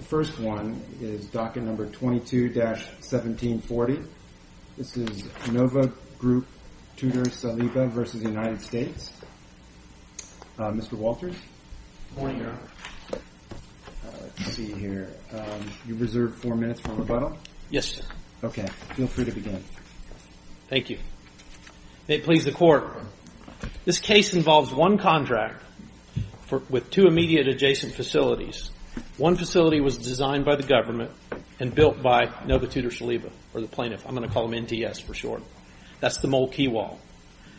The first one is docket number 22-1740. This is Nova Group-Tutor-Saliba v. United States. Mr. Walters? Good morning, Your Honor. Let's see here. You reserved four minutes for rebuttal? Yes, sir. Okay. Feel free to begin. Thank you. May it please the Court. This case involves one contract with two immediate adjacent facilities. One facility was designed by the government and built by Nova-Tutor-Saliba or the plaintiff. I'm going to call them NTS for short. That's the Mole Key Wall.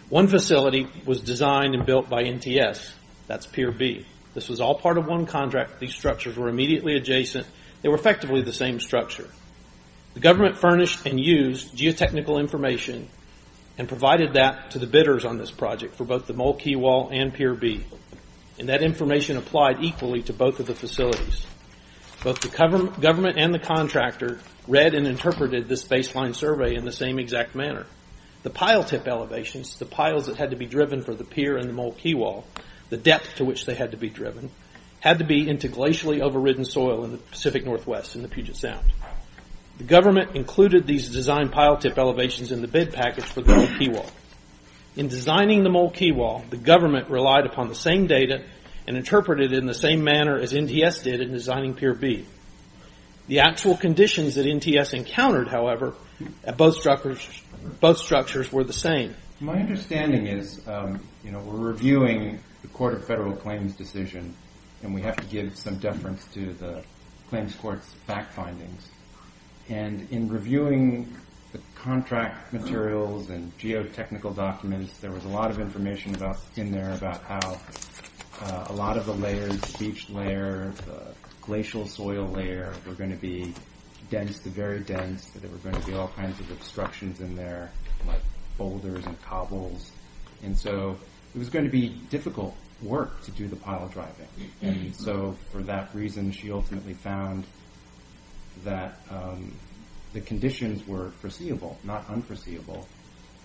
One facility was designed and built by NTS. That's Pier B. This was all part of one contract. These structures were immediately adjacent. They were effectively the same structure. The government furnished and used geotechnical information and provided that to the bidders on this project for both the Mole Key Wall and Pier B. And that information applied equally to both of the facilities. Both the government and the contractor read and interpreted this baseline survey in the same exact manner. The pile tip elevations, the piles that had to be driven for the pier and the Mole Key Wall, the depth to which they had to be driven, had to be into glacially overridden soil in the Pacific Northwest in the Puget Sound. The government included these design pile tip elevations in the bid package for the Mole Key Wall. In designing the Mole Key Wall, the government relied upon the same data and interpreted it in the same manner as NTS did in designing Pier B. The actual conditions that NTS encountered, however, at both structures were the same. My understanding is we're reviewing the Court of Federal Claims decision and we have to give some deference to the claims court's fact findings. And in reviewing the contract materials and geotechnical documents, there was a lot of information in there about how a lot of the layers, beach layer, glacial soil layer, were going to be dense, very dense, that there were going to be all kinds of obstructions in there like boulders and cobbles. And so it was going to be difficult work to do the pile driving. And so for that reason, she ultimately found that the conditions were foreseeable, not unforeseeable,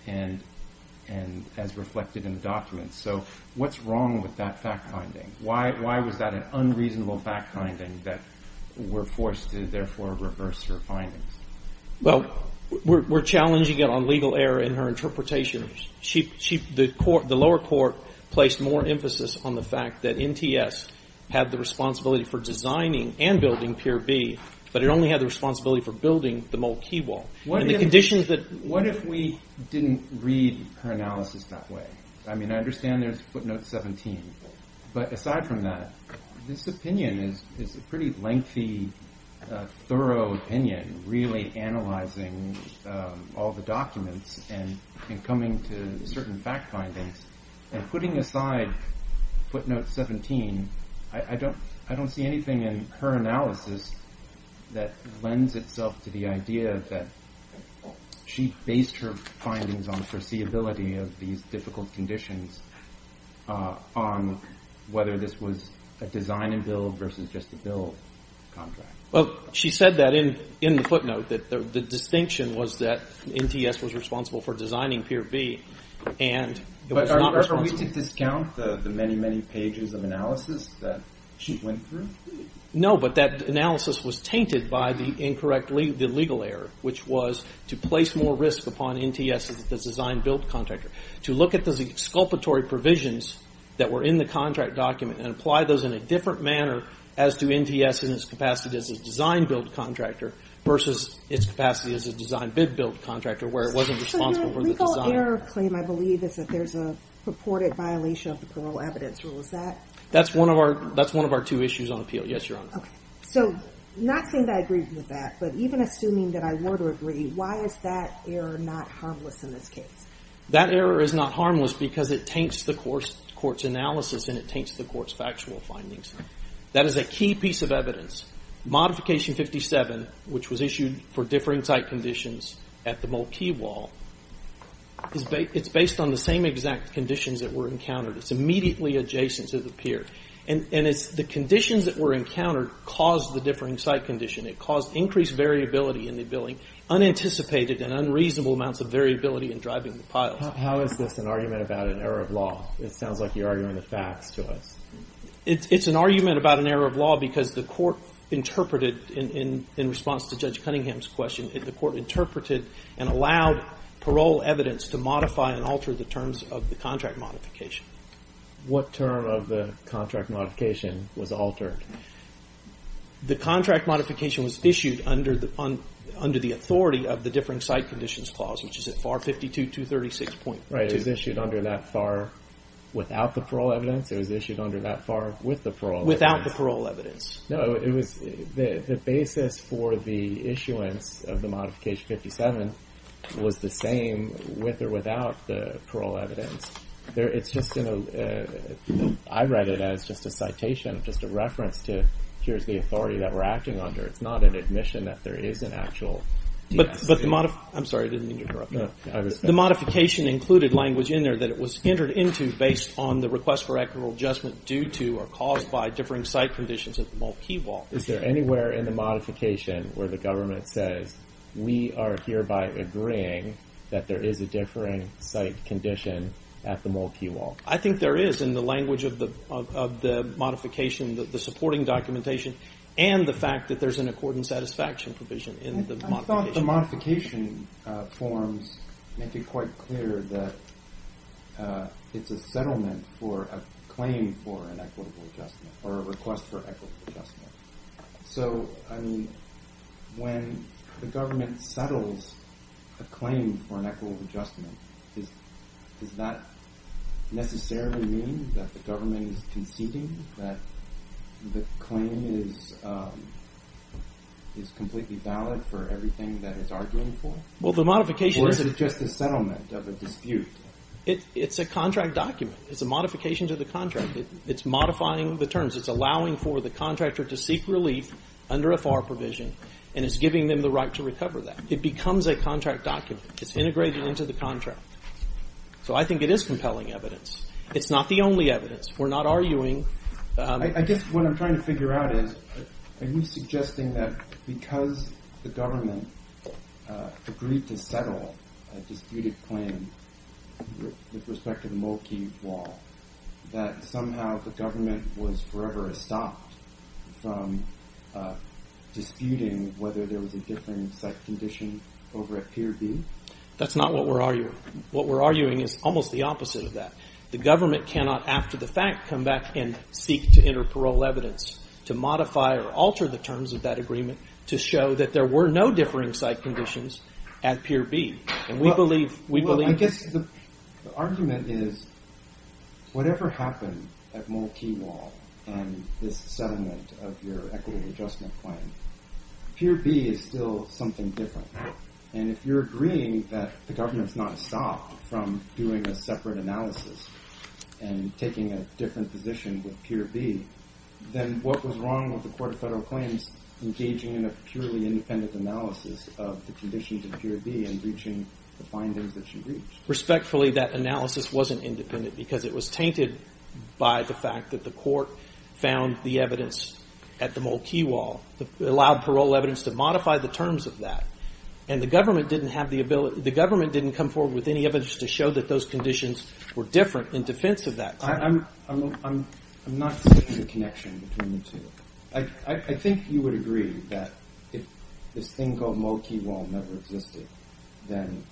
as reflected in the documents. So what's wrong with that fact finding? Why was that an unreasonable fact finding that we're forced to therefore reverse her findings? Well, we're challenging it on legal error in her interpretation. The lower court placed more emphasis on the fact that NTS had the responsibility for designing and building Pier B, but it only had the responsibility for building the mole key wall. What if we didn't read her analysis that way? I mean, I understand there's footnote 17, but aside from that, this opinion is a pretty lengthy, thorough opinion, really analyzing all the documents and coming to certain fact findings and putting aside footnote 17, I don't see anything in her analysis that lends itself to the idea that she based her findings on foreseeability of these difficult conditions on whether this was a design and build versus just a build contract. Well, she said that in the footnote, that the distinction was that NTS was responsible for designing Pier B, and it was not responsible. But are we to discount the many, many pages of analysis that she went through? No, but that analysis was tainted by the legal error, which was to place more risk upon NTS as a design-build contractor, to look at the exculpatory provisions that were in the contract document and apply those in a different manner as to NTS in its capacity as a design-build contractor versus its capacity as a design-bid-build contractor where it wasn't responsible for the design. So your legal error claim, I believe, is that there's a purported violation of the parole evidence rule, is that? That's one of our two issues on appeal, yes, Your Honor. So not saying that I agree with that, but even assuming that I were to agree, why is that error not harmless in this case? That error is not harmless because it taints the court's analysis and it taints the court's factual findings. That is a key piece of evidence. Modification 57, which was issued for differing site conditions at the Mulkey Wall, it's based on the same exact conditions that were encountered. It's immediately adjacent to the pier. And it's the conditions that were encountered caused the differing site condition. It caused increased variability in the building, unanticipated and unreasonable amounts of variability in driving the piles. How is this an argument about an error of law? It sounds like you're arguing the facts to us. It's an argument about an error of law because the court interpreted, in response to Judge Cunningham's question, the court interpreted and allowed parole evidence to modify and alter the terms of the contract modification. What term of the contract modification was altered? The contract modification was issued under the authority of the differing site conditions clause, which is at FAR 52-236.2. It was issued under that FAR without the parole evidence? It was issued under that FAR with the parole evidence? Without the parole evidence. No, it was the basis for the issuance of the modification 57 was the same with or without the parole evidence. I read it as just a citation, just a reference to, here's the authority that we're acting under. It's not an admission that there is an actual DS. I'm sorry, I didn't mean to interrupt you. The modification included language in there that it was entered into based on the request for equitable adjustment due to or caused by differing site conditions at the Mulkey Wall. Is there anywhere in the modification where the government says, we are hereby agreeing that there is a differing site condition at the Mulkey Wall? I think there is in the language of the modification, the supporting documentation, and the fact that there's an accord and satisfaction provision in the modification. I thought the modification forms make it quite clear that it's a settlement for a claim for an equitable adjustment or a request for equitable adjustment. So when the government settles a claim for an equitable adjustment, does that necessarily mean that the government is conceding that the claim is completely valid for everything that it's arguing for? Or is it just a settlement of a dispute? It's a contract document. It's a modification to the contract. It's modifying the terms. It's allowing for the contractor to seek relief under a FAR provision, and it's giving them the right to recover that. It becomes a contract document. It's integrated into the contract. So I think it is compelling evidence. It's not the only evidence. We're not arguing. I guess what I'm trying to figure out is, are you suggesting that because the government agreed to settle a disputed claim with respect to the Mulkey Wall, that somehow the government was forever stopped from disputing whether there was a differing site condition over at Pier B? That's not what we're arguing. What we're arguing is almost the opposite of that. The government cannot, after the fact, come back and seek to enter parole evidence to modify or alter the terms of that agreement to show that there were no differing site conditions at Pier B. Well, I guess the argument is whatever happened at Mulkey Wall and this settlement of your equity adjustment claim, Pier B is still something different. And if you're agreeing that the government's not stopped from doing a separate analysis and taking a different position with Pier B, then what was wrong with the Court of Federal Claims engaging in a purely independent analysis of the conditions at Pier B and reaching the findings that you reached? Respectfully, that analysis wasn't independent because it was tainted by the fact that the Court found the evidence at the Mulkey Wall, allowed parole evidence to modify the terms of that, and the government didn't have the ability, the government didn't come forward with any evidence to show that those conditions were different in defense of that claim. I'm not seeking a connection between the two. I think you would agree that if this thing called Mulkey Wall never existed, then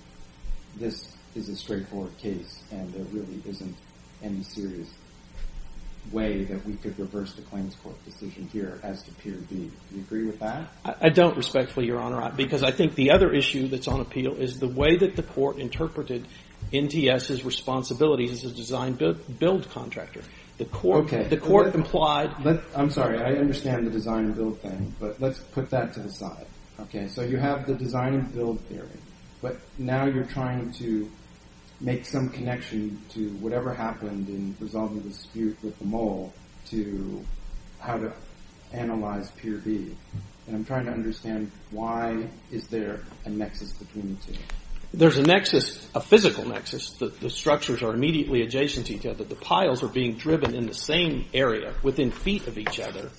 this is a straightforward case and there really isn't any serious way that we could reverse the claims court decision here as to Pier B. Do you agree with that? I don't, respectfully, Your Honor, because I think the other issue that's on appeal is the way that the court interpreted NTS's responsibilities as a design-build contractor. I'm sorry, I understand the design-build thing, but let's put that to the side. So you have the design-build theory, but now you're trying to make some connection to whatever happened in resolving the dispute with the mole to how to analyze Pier B. I'm trying to understand why is there a nexus between the two? There's a nexus, a physical nexus. The structures are immediately adjacent to each other. The piles are being driven in the same area within feet of each other,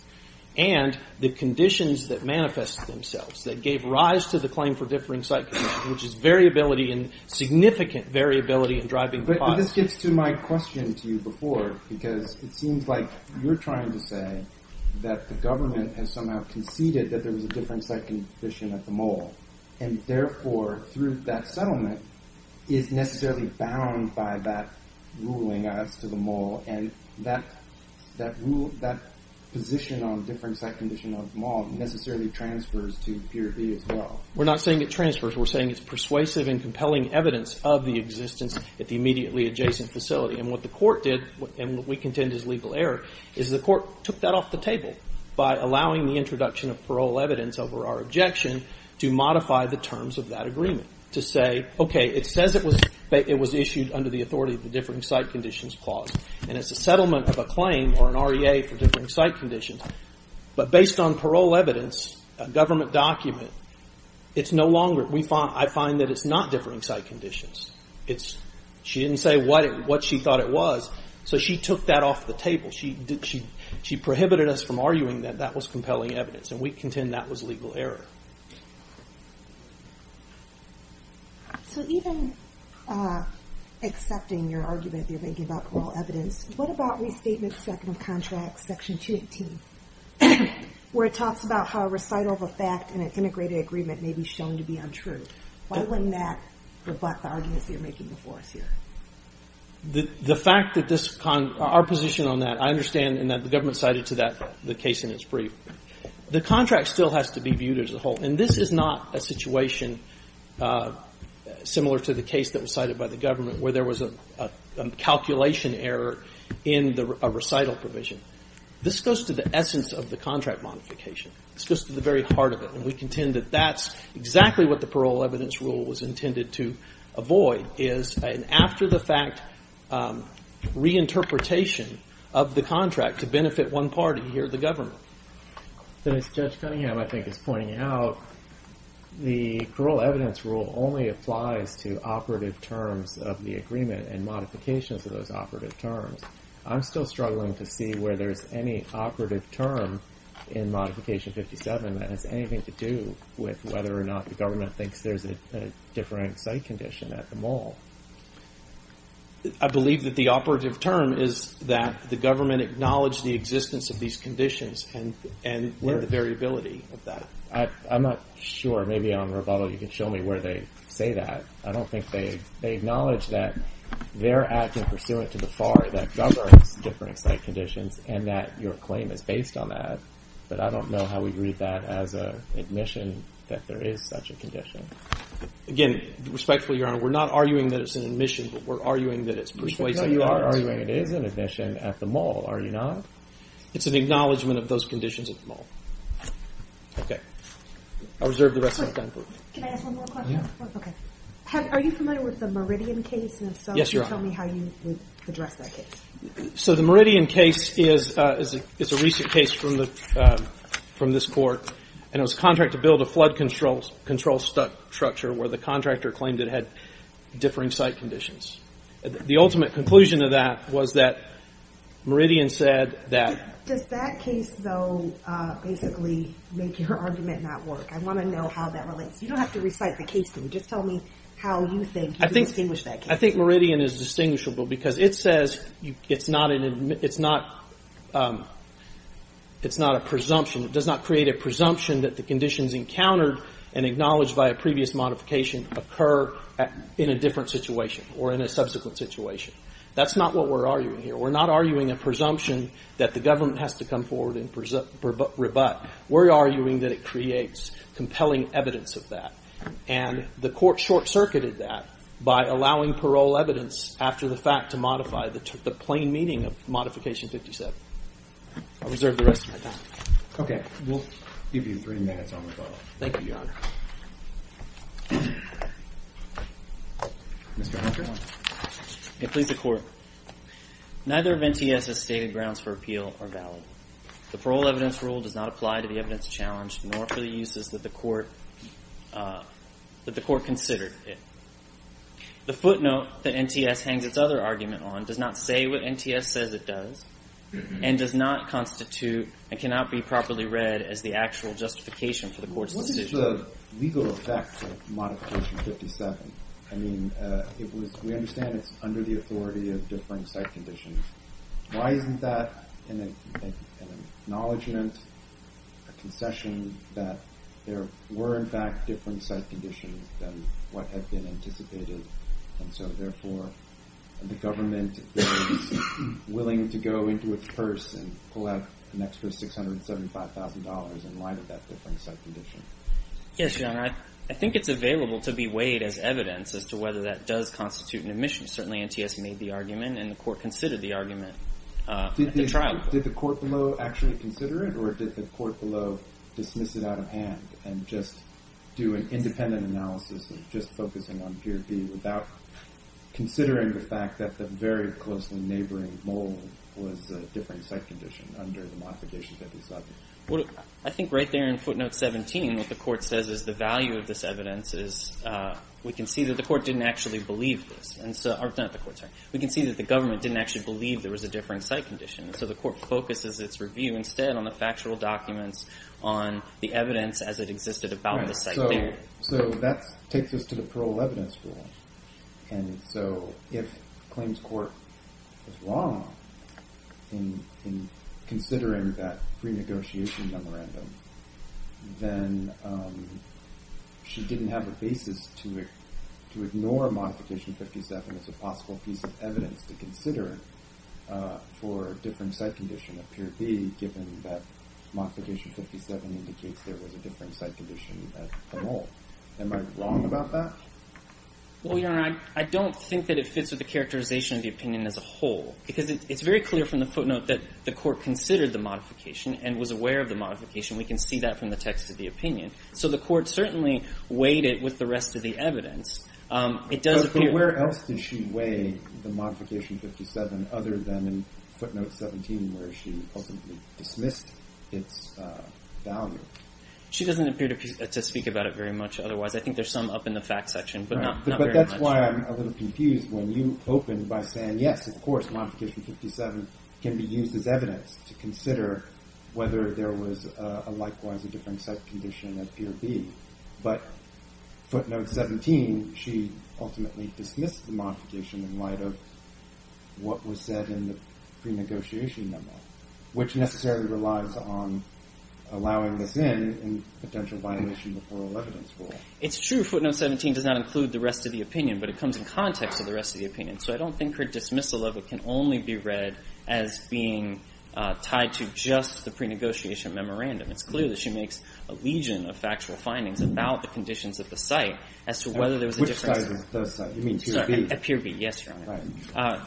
and the conditions that manifest themselves that gave rise to the claim for differing site conditions, which is variability and significant variability in driving the process. But this gets to my question to you before, because it seems like you're trying to say that the government has somehow conceded that there was a different site condition at the mole, and therefore, through that settlement, is necessarily bound by that ruling as to the mole, and that position on different site condition of the mole necessarily transfers to Pier B as well. We're not saying it transfers. We're saying it's persuasive and compelling evidence of the existence at the immediately adjacent facility. And what the court did, and what we contend is legal error, is the court took that off the table by allowing the introduction of parole evidence over our objection to modify the terms of that agreement to say, okay, it says it was issued under the authority of the differing site conditions clause, and it's a settlement of a claim or an REA for differing site conditions, but based on parole evidence, a government document, it's no longer. I find that it's not differing site conditions. She didn't say what she thought it was, so she took that off the table. She prohibited us from arguing that that was compelling evidence, and we contend that was legal error. So even accepting your argument that you're making about parole evidence, what about restatement second of contract, section 218, where it talks about how a recital of a fact in an integrated agreement may be shown to be untrue? Why wouldn't that rebut the arguments you're making before us here? The fact that this, our position on that, I understand, and that the government cited to that case in its brief. The contract still has to be viewed as a whole, and this is not a situation similar to the case that was cited by the government where there was a calculation error in a recital provision. This goes to the essence of the contract modification. This goes to the very heart of it, and we contend that that's exactly what the parole evidence rule was intended to avoid, is an after-the-fact reinterpretation of the contract to benefit one party here, the government. As Judge Cunningham, I think, is pointing out, the parole evidence rule only applies to operative terms of the agreement and modifications of those operative terms. I'm still struggling to see where there's any operative term in Modification 57 that has anything to do with whether or not the government thinks there's a different site condition at the mall. I believe that the operative term is that the government acknowledged the existence of these conditions and the variability of that. I'm not sure. Maybe on rebuttal you can show me where they say that. I don't think they acknowledge that they're acting pursuant to the FAR that governs different site conditions and that your claim is based on that, but I don't know how we read that as an admission that there is such a condition. Again, respectfully, Your Honor, we're not arguing that it's an admission, but we're arguing that it's persuasive. No, you are arguing it is an admission at the mall, are you not? It's an acknowledgment of those conditions at the mall. Okay. I'll reserve the rest of my time for you. Can I ask one more question? Yeah. Okay. Are you familiar with the Meridian case? Yes, Your Honor. And if so, can you tell me how you would address that case? So the Meridian case is a recent case from this court, and it was a contract to build a flood control structure where the contractor claimed it had differing site conditions. The ultimate conclusion of that was that Meridian said that – Does that case, though, basically make your argument not work? I want to know how that relates. You don't have to recite the case to me. Just tell me how you think you can distinguish that case. I think Meridian is distinguishable because it says it's not a presumption. It does not create a presumption that the conditions encountered and acknowledged by a previous modification occur in a different situation or in a subsequent situation. That's not what we're arguing here. We're not arguing a presumption that the government has to come forward and rebut. We're arguing that it creates compelling evidence of that, and the court short-circuited that by allowing parole evidence after the fact to modify the plain meaning of Modification 57. I'll reserve the rest of my time. Okay. We'll give you three minutes on the call. Thank you, Your Honor. Mr. Hunter? I plead the court. Neither of NTS's stated grounds for appeal are valid. The parole evidence rule does not apply to the evidence challenged nor for the uses that the court considered. The footnote that NTS hangs its other argument on does not say what NTS says it does and does not constitute and cannot be properly read as the actual justification for the court's decision. What is the legal effect of Modification 57? I mean, we understand it's under the authority of differing site conditions. Why isn't that an acknowledgment, a concession, that there were, in fact, different site conditions than what had been anticipated? And so, therefore, the government is willing to go into its purse and pull out an extra $675,000 in light of that different site condition. Yes, Your Honor. I think it's available to be weighed as evidence as to whether that does constitute an admission. Certainly, NTS made the argument, and the court considered the argument at the trial. Did the court below actually consider it, or did the court below dismiss it out of hand and just do an independent analysis of just focusing on gear B without considering the fact that the very closely neighboring mole was a different site condition under the Modification 57? I think right there in footnote 17, what the court says is the value of this evidence is we can see that the court didn't actually believe this. We can see that the government didn't actually believe there was a differing site condition. So the court focuses its review instead on the factual documents on the evidence as it existed about the site there. So that takes us to the parole evidence rule. And so if claims court was wrong in considering that pre-negotiation memorandum, then she didn't have a basis to ignore Modification 57 as a possible piece of evidence to consider for a different site condition of peer B given that Modification 57 indicates there was a different site condition at the mole. Am I wrong about that? Well, Your Honor, I don't think that it fits with the characterization of the opinion as a whole. Because it's very clear from the footnote that the court considered the modification and was aware of the modification. We can see that from the text of the opinion. So the court certainly weighed it with the rest of the evidence. But where else did she weigh the Modification 57 other than in footnote 17 where she ultimately dismissed its value? She doesn't appear to speak about it very much otherwise. I think there's some up in the facts section, but not very much. But that's why I'm a little confused when you open by saying, yes, of course, Modification 57 can be used as evidence to consider whether there was a likewise a different site condition at peer B. But footnote 17, she ultimately dismissed the modification in light of what was said in the pre-negotiation memo, which necessarily relies on allowing this in in potential violation of the plural evidence rule. It's true footnote 17 does not include the rest of the opinion, but it comes in context with the rest of the opinion. So I don't think her dismissal of it can only be read as being tied to just the pre-negotiation memorandum. It's clear that she makes a legion of factual findings about the conditions at the site as to whether there was a difference. At peer B, yes, Your Honor.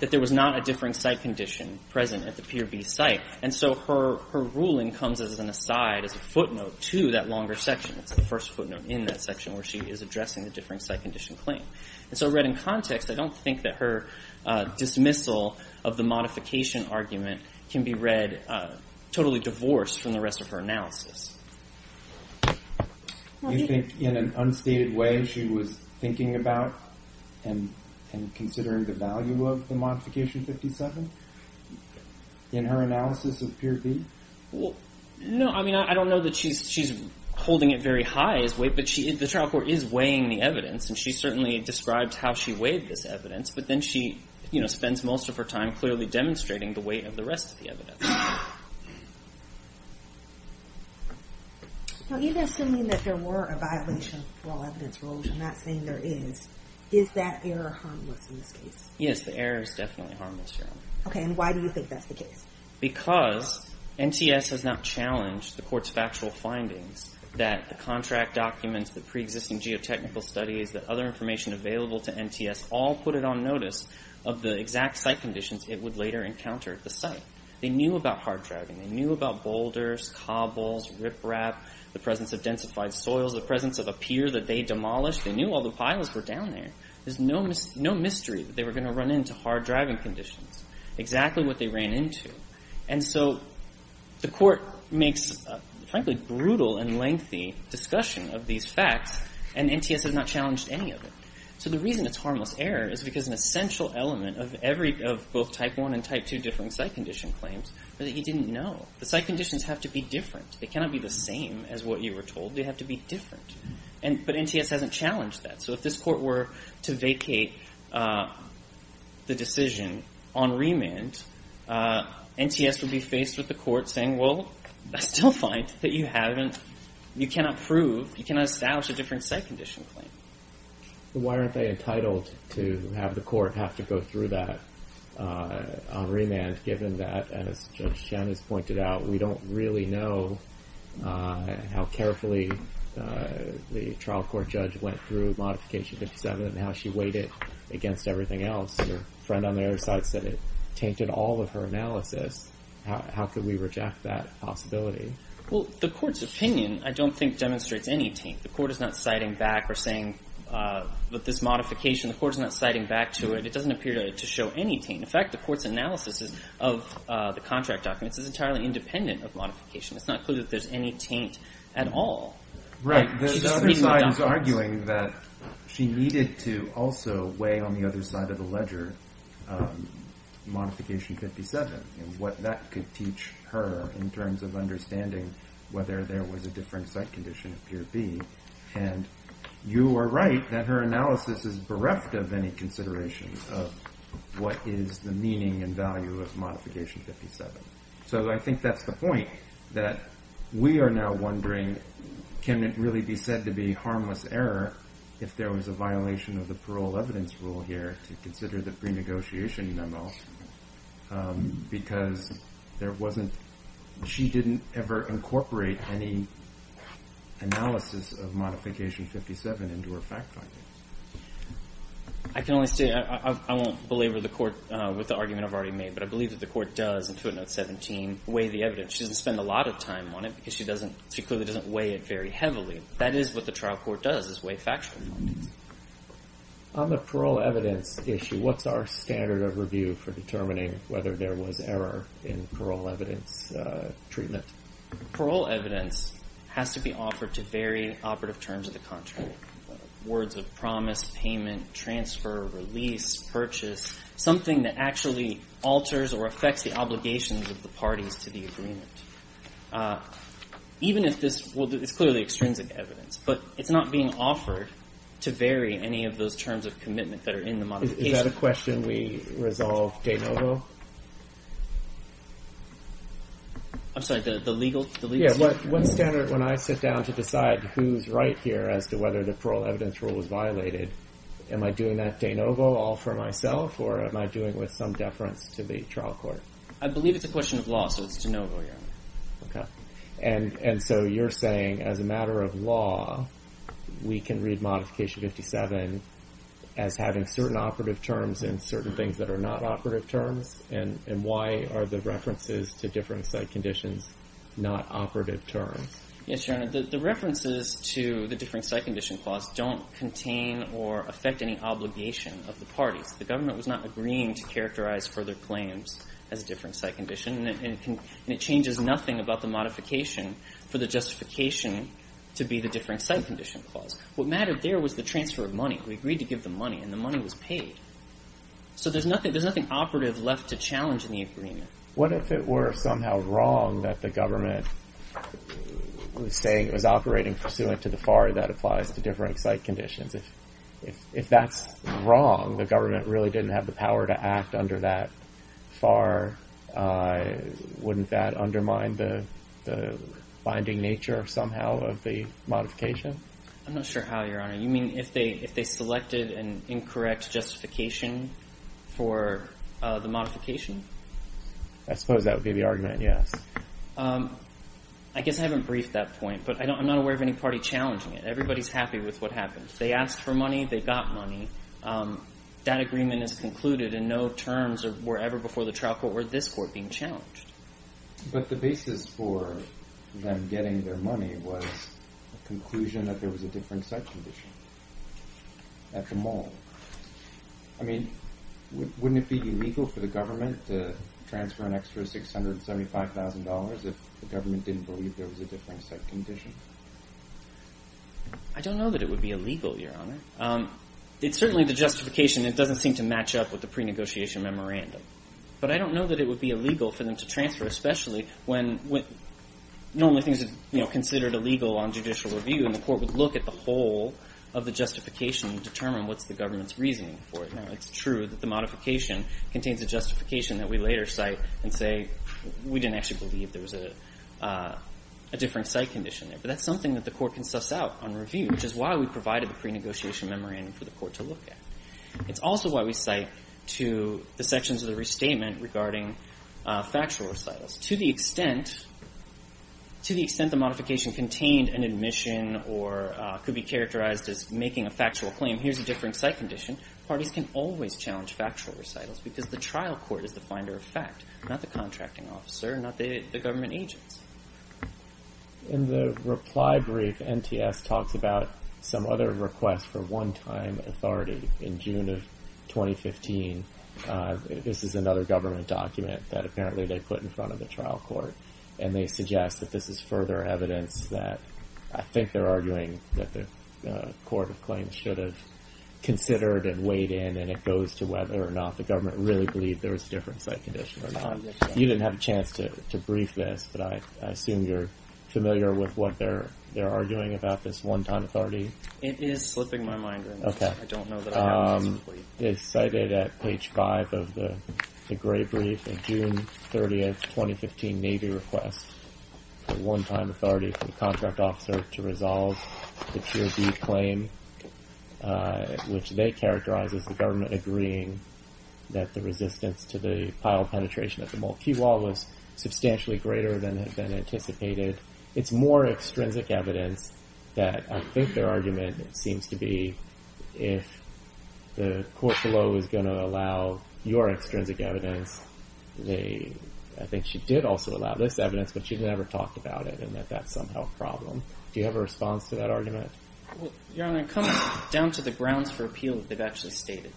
That there was not a differing site condition present at the peer B site. And so her ruling comes as an aside, as a footnote to that longer section. It's the first footnote in that section where she is addressing the differing site condition claim. And so read in context, I don't think that her dismissal of the modification argument can be read totally divorced from the rest of her analysis. Do you think in an unstated way she was thinking about and considering the value of the modification 57? In her analysis of peer B? No, I mean, I don't know that she's holding it very high as weight, but the trial court is weighing the evidence, and she certainly describes how she weighed this evidence. But then she spends most of her time clearly demonstrating the weight of the rest of the evidence. Now, even assuming that there were a violation for all evidence rules, I'm not saying there is, is that error harmless in this case? Yes, the error is definitely harmless, Your Honor. Okay, and why do you think that's the case? Because NTS has not challenged the court's factual findings that the contract documents, the preexisting geotechnical studies, the other information available to NTS, all put it on notice of the exact site conditions it would later encounter at the site. They knew about hard dragging. They knew about boulders, cobbles, riprap, the presence of densified soils, the presence of a pier that they demolished. They knew all the piles were down there. There's no mystery that they were going to run into hard dragging conditions, exactly what they ran into. And so the court makes, frankly, a brutal and lengthy discussion of these facts, and NTS has not challenged any of it. So the reason it's harmless error is because an essential element of both Type I and Type II differing site condition claims are that you didn't know. The site conditions have to be different. They cannot be the same as what you were told. They have to be different. But NTS hasn't challenged that. So if this court were to vacate the decision on remand, NTS would be faced with the court saying, well, I still find that you haven't, you cannot prove, you cannot establish a different site condition claim. Why aren't they entitled to have the court have to go through that on remand given that, as Judge Chen has pointed out, we don't really know how carefully the trial court judge went through Modification 57 and how she weighed it against everything else. Her friend on the other side said it tainted all of her analysis. How could we reject that possibility? Well, the court's opinion I don't think demonstrates any taint. The court is not citing back or saying that this modification, the court is not citing back to it. It doesn't appear to show any taint. In fact, the court's analysis of the contract documents is entirely independent of modification. It's not clear that there's any taint at all. Right. The other side is arguing that she needed to also weigh on the other side of the ledger Modification 57 and what that could teach her in terms of understanding whether there was a different site condition of Pier B. And you are right that her analysis is bereft of any consideration of what is the meaning and value of Modification 57. So I think that's the point that we are now wondering can it really be said to be harmless error if there was a violation of the parole evidence rule here to consider the pre-negotiation memo because she didn't ever incorporate any analysis of Modification 57 into her fact findings. I can only say I won't belabor the court with the argument I've already made but I believe that the court does in Footnote 17 weigh the evidence. She doesn't spend a lot of time on it because she clearly doesn't weigh it very heavily. That is what the trial court does is weigh factual findings. On the parole evidence issue, what's our standard of review for determining whether there was error in parole evidence treatment? Parole evidence has to be offered to vary operative terms of the contract. So words of promise, payment, transfer, release, purchase, something that actually alters or affects the obligations of the parties to the agreement. Even if this is clearly extrinsic evidence, but it's not being offered to vary any of those terms of commitment that are in the modification. Is that a question we resolve de novo? I'm sorry, the legal? Yeah, what standard when I sit down to decide who's right here as to whether the parole evidence rule was violated, am I doing that de novo all for myself or am I doing it with some deference to the trial court? I believe it's a question of law, so it's de novo. And so you're saying as a matter of law, we can read Modification 57 as having certain operative terms and certain things that are not operative terms and why are the references to differing site conditions not operative terms? Yes, Your Honor, the references to the differing site condition clause don't contain or affect any obligation of the parties. The government was not agreeing to characterize further claims as differing site condition and it changes nothing about the modification for the justification to be the differing site condition clause. What mattered there was the transfer of money. We agreed to give them money and the money was paid. So there's nothing operative left to challenge in the agreement. What if it were somehow wrong that the government was saying it was operating pursuant to the FAR that applies to differing site conditions? If that's wrong, the government really didn't have the power to act under that FAR, wouldn't that undermine the binding nature somehow of the modification? I'm not sure how, Your Honor. You mean if they selected an incorrect justification for the modification? I suppose that would be the argument, yes. I guess I haven't briefed that point, but I'm not aware of any party challenging it. Everybody's happy with what happened. They asked for money. They got money. That agreement is concluded in no terms or wherever before the trial court or this court being challenged. But the basis for them getting their money was a conclusion that there was a different site condition at the mall. I mean, wouldn't it be illegal for the government to transfer an extra $675,000 if the government didn't believe there was a different site condition? I don't know that it would be illegal, Your Honor. It's certainly the justification. It doesn't seem to match up with the pre-negotiation memorandum. But I don't know that it would be illegal for them to transfer, especially when normally things are considered illegal on judicial review and the court would look at the whole of the justification and determine what's the government's reasoning for it. Now, it's true that the modification contains a justification that we later cite and say we didn't actually believe there was a different site condition there. But that's something that the court can suss out on review, which is why we provided the pre-negotiation memorandum for the court to look at. It's also why we cite to the sections of the restatement regarding factual recitals. To the extent the modification contained an admission or could be characterized as making a factual claim, here's a different site condition, parties can always challenge factual recitals because the trial court is the finder of fact, not the contracting officer, not the government agents. In the reply brief, NTS talks about some other requests for one-time authority in June of 2015. This is another government document that apparently they put in front of the trial court and they suggest that this is further evidence that, I think they're arguing that the court of claims should have considered and weighed in and it goes to whether or not the government really believed there was a different site condition or not. You didn't have a chance to brief this, but I assume you're familiar with what they're arguing about this one-time authority. It is slipping my mind right now. Okay. I don't know that I have this complete. It's cited at page five of the gray brief, a June 30th, 2015 Navy request for one-time authority for the contract officer to resolve the Tier D claim, which they characterize as the government agreeing that the resistance to the pile penetration at the Mulkey Wall was substantially greater than had been anticipated. It's more extrinsic evidence that I think their argument seems to be if the court below is going to allow your extrinsic evidence, I think she did also allow this evidence, but she never talked about it and that that's somehow a problem. Do you have a response to that argument? Your Honor, coming down to the grounds for appeal that they've actually stated,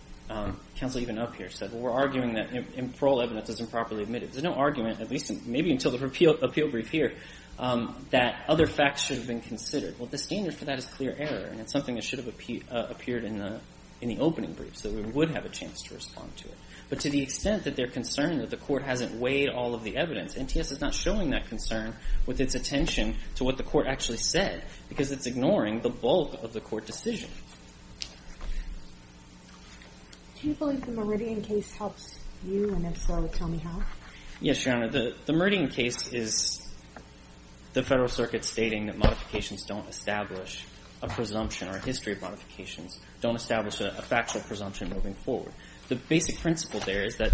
counsel even up here said, well, we're arguing that parole evidence is improperly admitted. There's no argument, at least maybe until the appeal brief here, that other facts should have been considered. Well, the standard for that is clear error, and it's something that should have appeared in the opening brief, so we would have a chance to respond to it. But to the extent that they're concerned that the court hasn't weighed all of the evidence, NTS is not showing that concern with its attention to what the court actually said because it's ignoring the bulk of the court decision. Do you believe the Meridian case helps you, and if so, tell me how? Yes, Your Honor. The Meridian case is the Federal Circuit stating that modifications don't establish a presumption or a history of modifications, don't establish a factual presumption moving forward. The basic principle there is that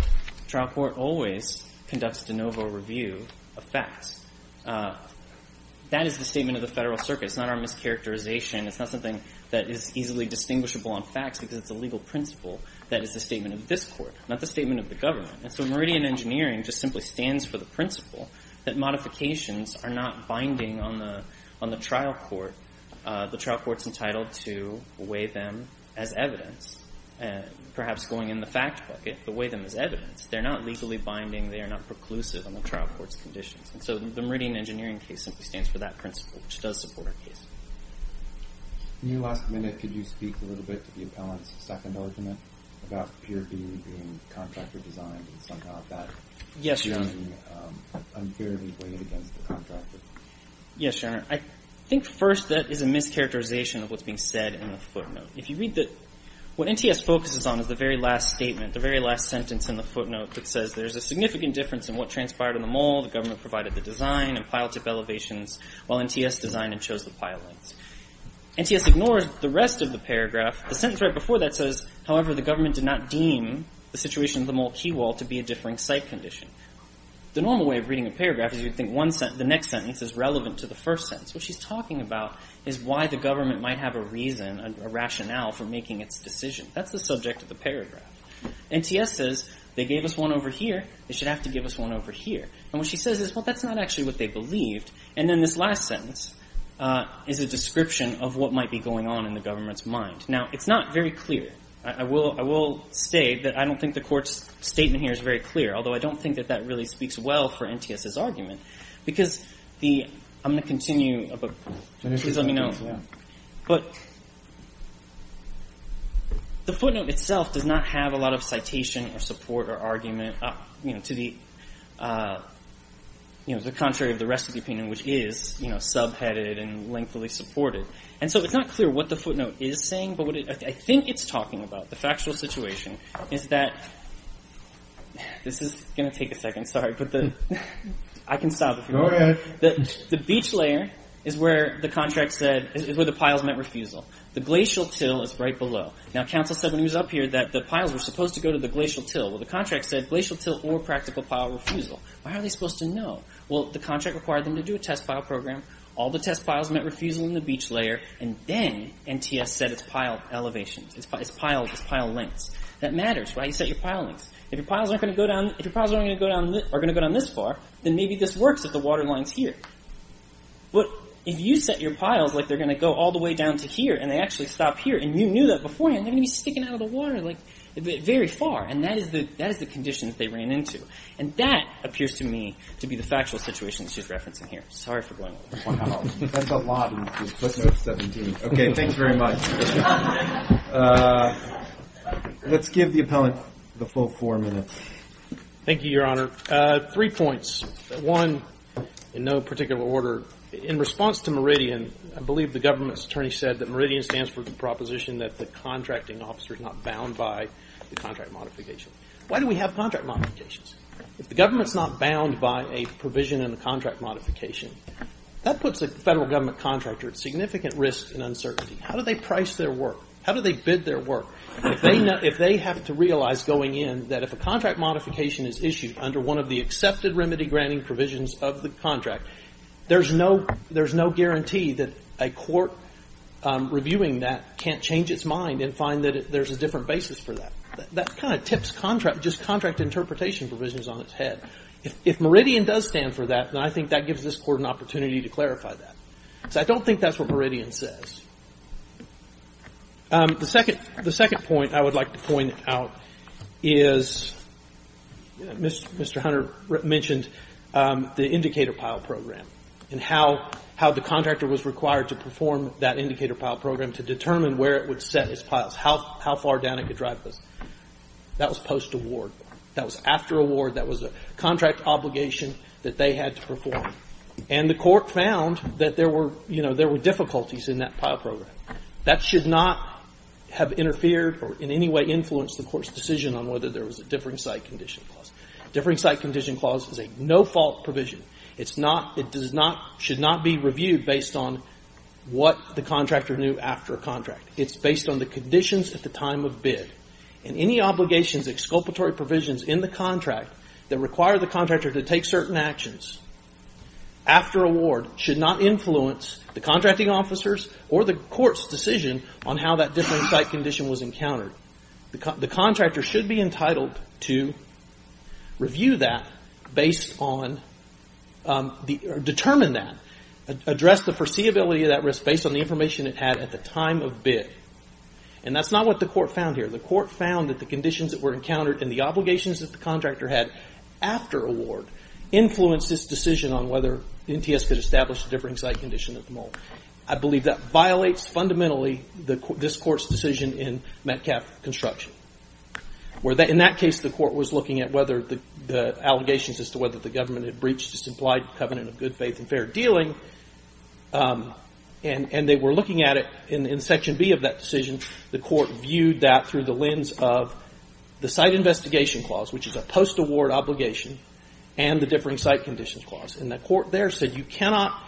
trial court always conducts de novo review of facts. That is the statement of the Federal Circuit. It's not our mischaracterization. It's not something that is easily distinguishable on facts because it's a legal principle, that is the statement of this court, not the statement of the government. And so Meridian Engineering just simply stands for the principle that modifications are not binding on the trial court. The trial court's entitled to weigh them as evidence, perhaps going in the fact bucket, but weigh them as evidence. They're not legally binding. They are not preclusive on the trial court's conditions. And so the Meridian Engineering case simply stands for that principle, which does support our case. In your last minute, could you speak a little bit to the appellant's second argument about Pier B being contractor-designed and somehow that is unfairly weighed against the contractor? Yes, Your Honor. I think first that is a mischaracterization of what's being said in the footnote. If you read that what NTS focuses on is the very last statement, the very last sentence in the footnote that says there's a significant difference in what transpired in the mole, the government provided the design, and pile tip elevations while NTS designed and chose the pile lengths. NTS ignores the rest of the paragraph. The sentence right before that says, however, the government did not deem the situation of the mole key wall to be a differing site condition. The normal way of reading a paragraph is you'd think the next sentence is relevant to the first sentence. What she's talking about is why the government might have a reason, a rationale for making its decision. That's the subject of the paragraph. NTS says they gave us one over here. They should have to give us one over here. And what she says is, well, that's not actually what they believed. And then this last sentence is a description of what might be going on in the government's mind. Now, it's not very clear. I will say that I don't think the Court's statement here is very clear, although I don't think that that really speaks well for NTS's argument because the ‑‑ I'm going to continue, but please let me know. But the footnote itself does not have a lot of citation or support or argument to the contrary of the rest of the opinion, which is subheaded and lengthily supported. And so it's not clear what the footnote is saying, but what I think it's talking about, the factual situation, is that this is going to take a second. Sorry. I can stop if you want. Go ahead. The beach layer is where the contract said ‑‑ is where the piles met refusal. The glacial till is right below. Now, counsel said when he was up here that the piles were supposed to go to the glacial till. Well, the contract said glacial till or practical pile refusal. How are they supposed to know? Well, the contract required them to do a test pile program. All the test piles met refusal in the beach layer, and then NTS said it's pile elevations. It's pile lengths. That matters, right? You set your pile lengths. If your piles aren't going to go down this far, then maybe this works if the water line is here. But if you set your piles like they're going to go all the way down to here and they actually stop here and you knew that beforehand, they're going to be sticking out of the water very far. And that is the condition that they ran into. And that appears to me to be the factual situation that she's referencing here. Sorry for going over. Wow. That's a lot. Okay. Thanks very much. Let's give the appellant the full four minutes. Thank you, Your Honor. Three points. One, in no particular order, in response to Meridian, I believe the government's attorney said that Meridian stands for the proposition that the contracting officer is not bound by the contract modification. Why do we have contract modifications? If the government's not bound by a provision in the contract modification, that puts a federal government contractor at significant risk and uncertainty. How do they price their work? How do they bid their work? If they have to realize going in that if a contract modification is issued under one of the accepted remedy granting provisions of the contract, there's no guarantee that a court reviewing that can't change its mind and find that there's a different basis for that. That kind of tips contract, just contract interpretation provisions on its head. If Meridian does stand for that, then I think that gives this Court an opportunity to clarify that. So I don't think that's what Meridian says. The second point I would like to point out is Mr. Hunter mentioned the indicator pile program and how the contractor was required to perform that indicator pile program to determine where it would set its piles, how far down it could drive this. That was post-award. That was after award. That was a contract obligation that they had to perform. And the Court found that there were, you know, there were difficulties in that pile program. That should not have interfered or in any way influenced the Court's decision on whether there was a differing site condition clause. Differing site condition clause is a no-fault provision. It's not, it does not, should not be reviewed based on what the contractor knew after a contract. It's based on the conditions at the time of bid. And any obligations, exculpatory provisions in the contract that require the contractor to take certain actions after award should not influence the contracting officers or the Court's decision on how that different site condition was encountered. The contractor should be entitled to review that based on, determine that, address the foreseeability of that risk based on the information it had at the time of bid. And that's not what the Court found here. The Court found that the conditions that were encountered and the obligations that the contractor had after award influenced this decision on whether NTS could establish a differing site condition at the moment. I believe that violates fundamentally this Court's decision in Metcalf construction, where in that case the Court was looking at whether the allegations as to whether the government had breached its implied covenant of good faith and fair dealing. And they were looking at it in section B of that decision. The Court viewed that through the lens of the site investigation clause, which is a post-award obligation, and the differing site conditions clause. And the Court there said you cannot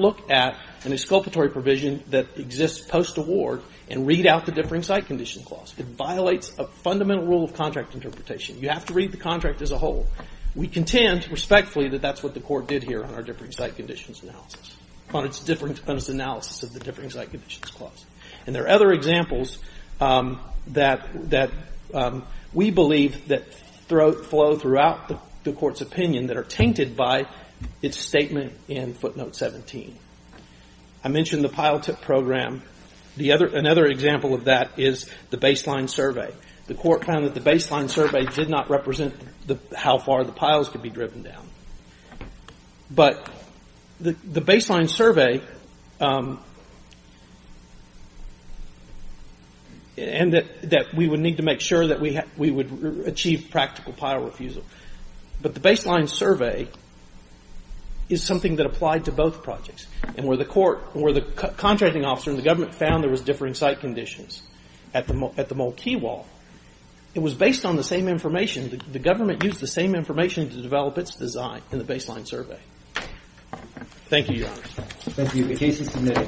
look at an exculpatory provision that exists post-award and read out the differing site conditions clause. It violates a fundamental rule of contract interpretation. You have to read the contract as a whole. We contend respectfully that that's what the Court did here on our differing site conditions analysis, on its analysis of the differing site conditions clause. And there are other examples that we believe that flow throughout the Court's statement in footnote 17. I mentioned the pile tip program. Another example of that is the baseline survey. The Court found that the baseline survey did not represent how far the piles could be driven down. But the baseline survey, and that we would need to make sure that we would achieve practical pile refusal. But the baseline survey is something that applied to both projects. And where the Court, where the contracting officer and the government found there was differing site conditions at the Mole Key Wall, it was based on the same information. The government used the same information to develop its design in the baseline survey. Thank you, Your Honor. Roberts.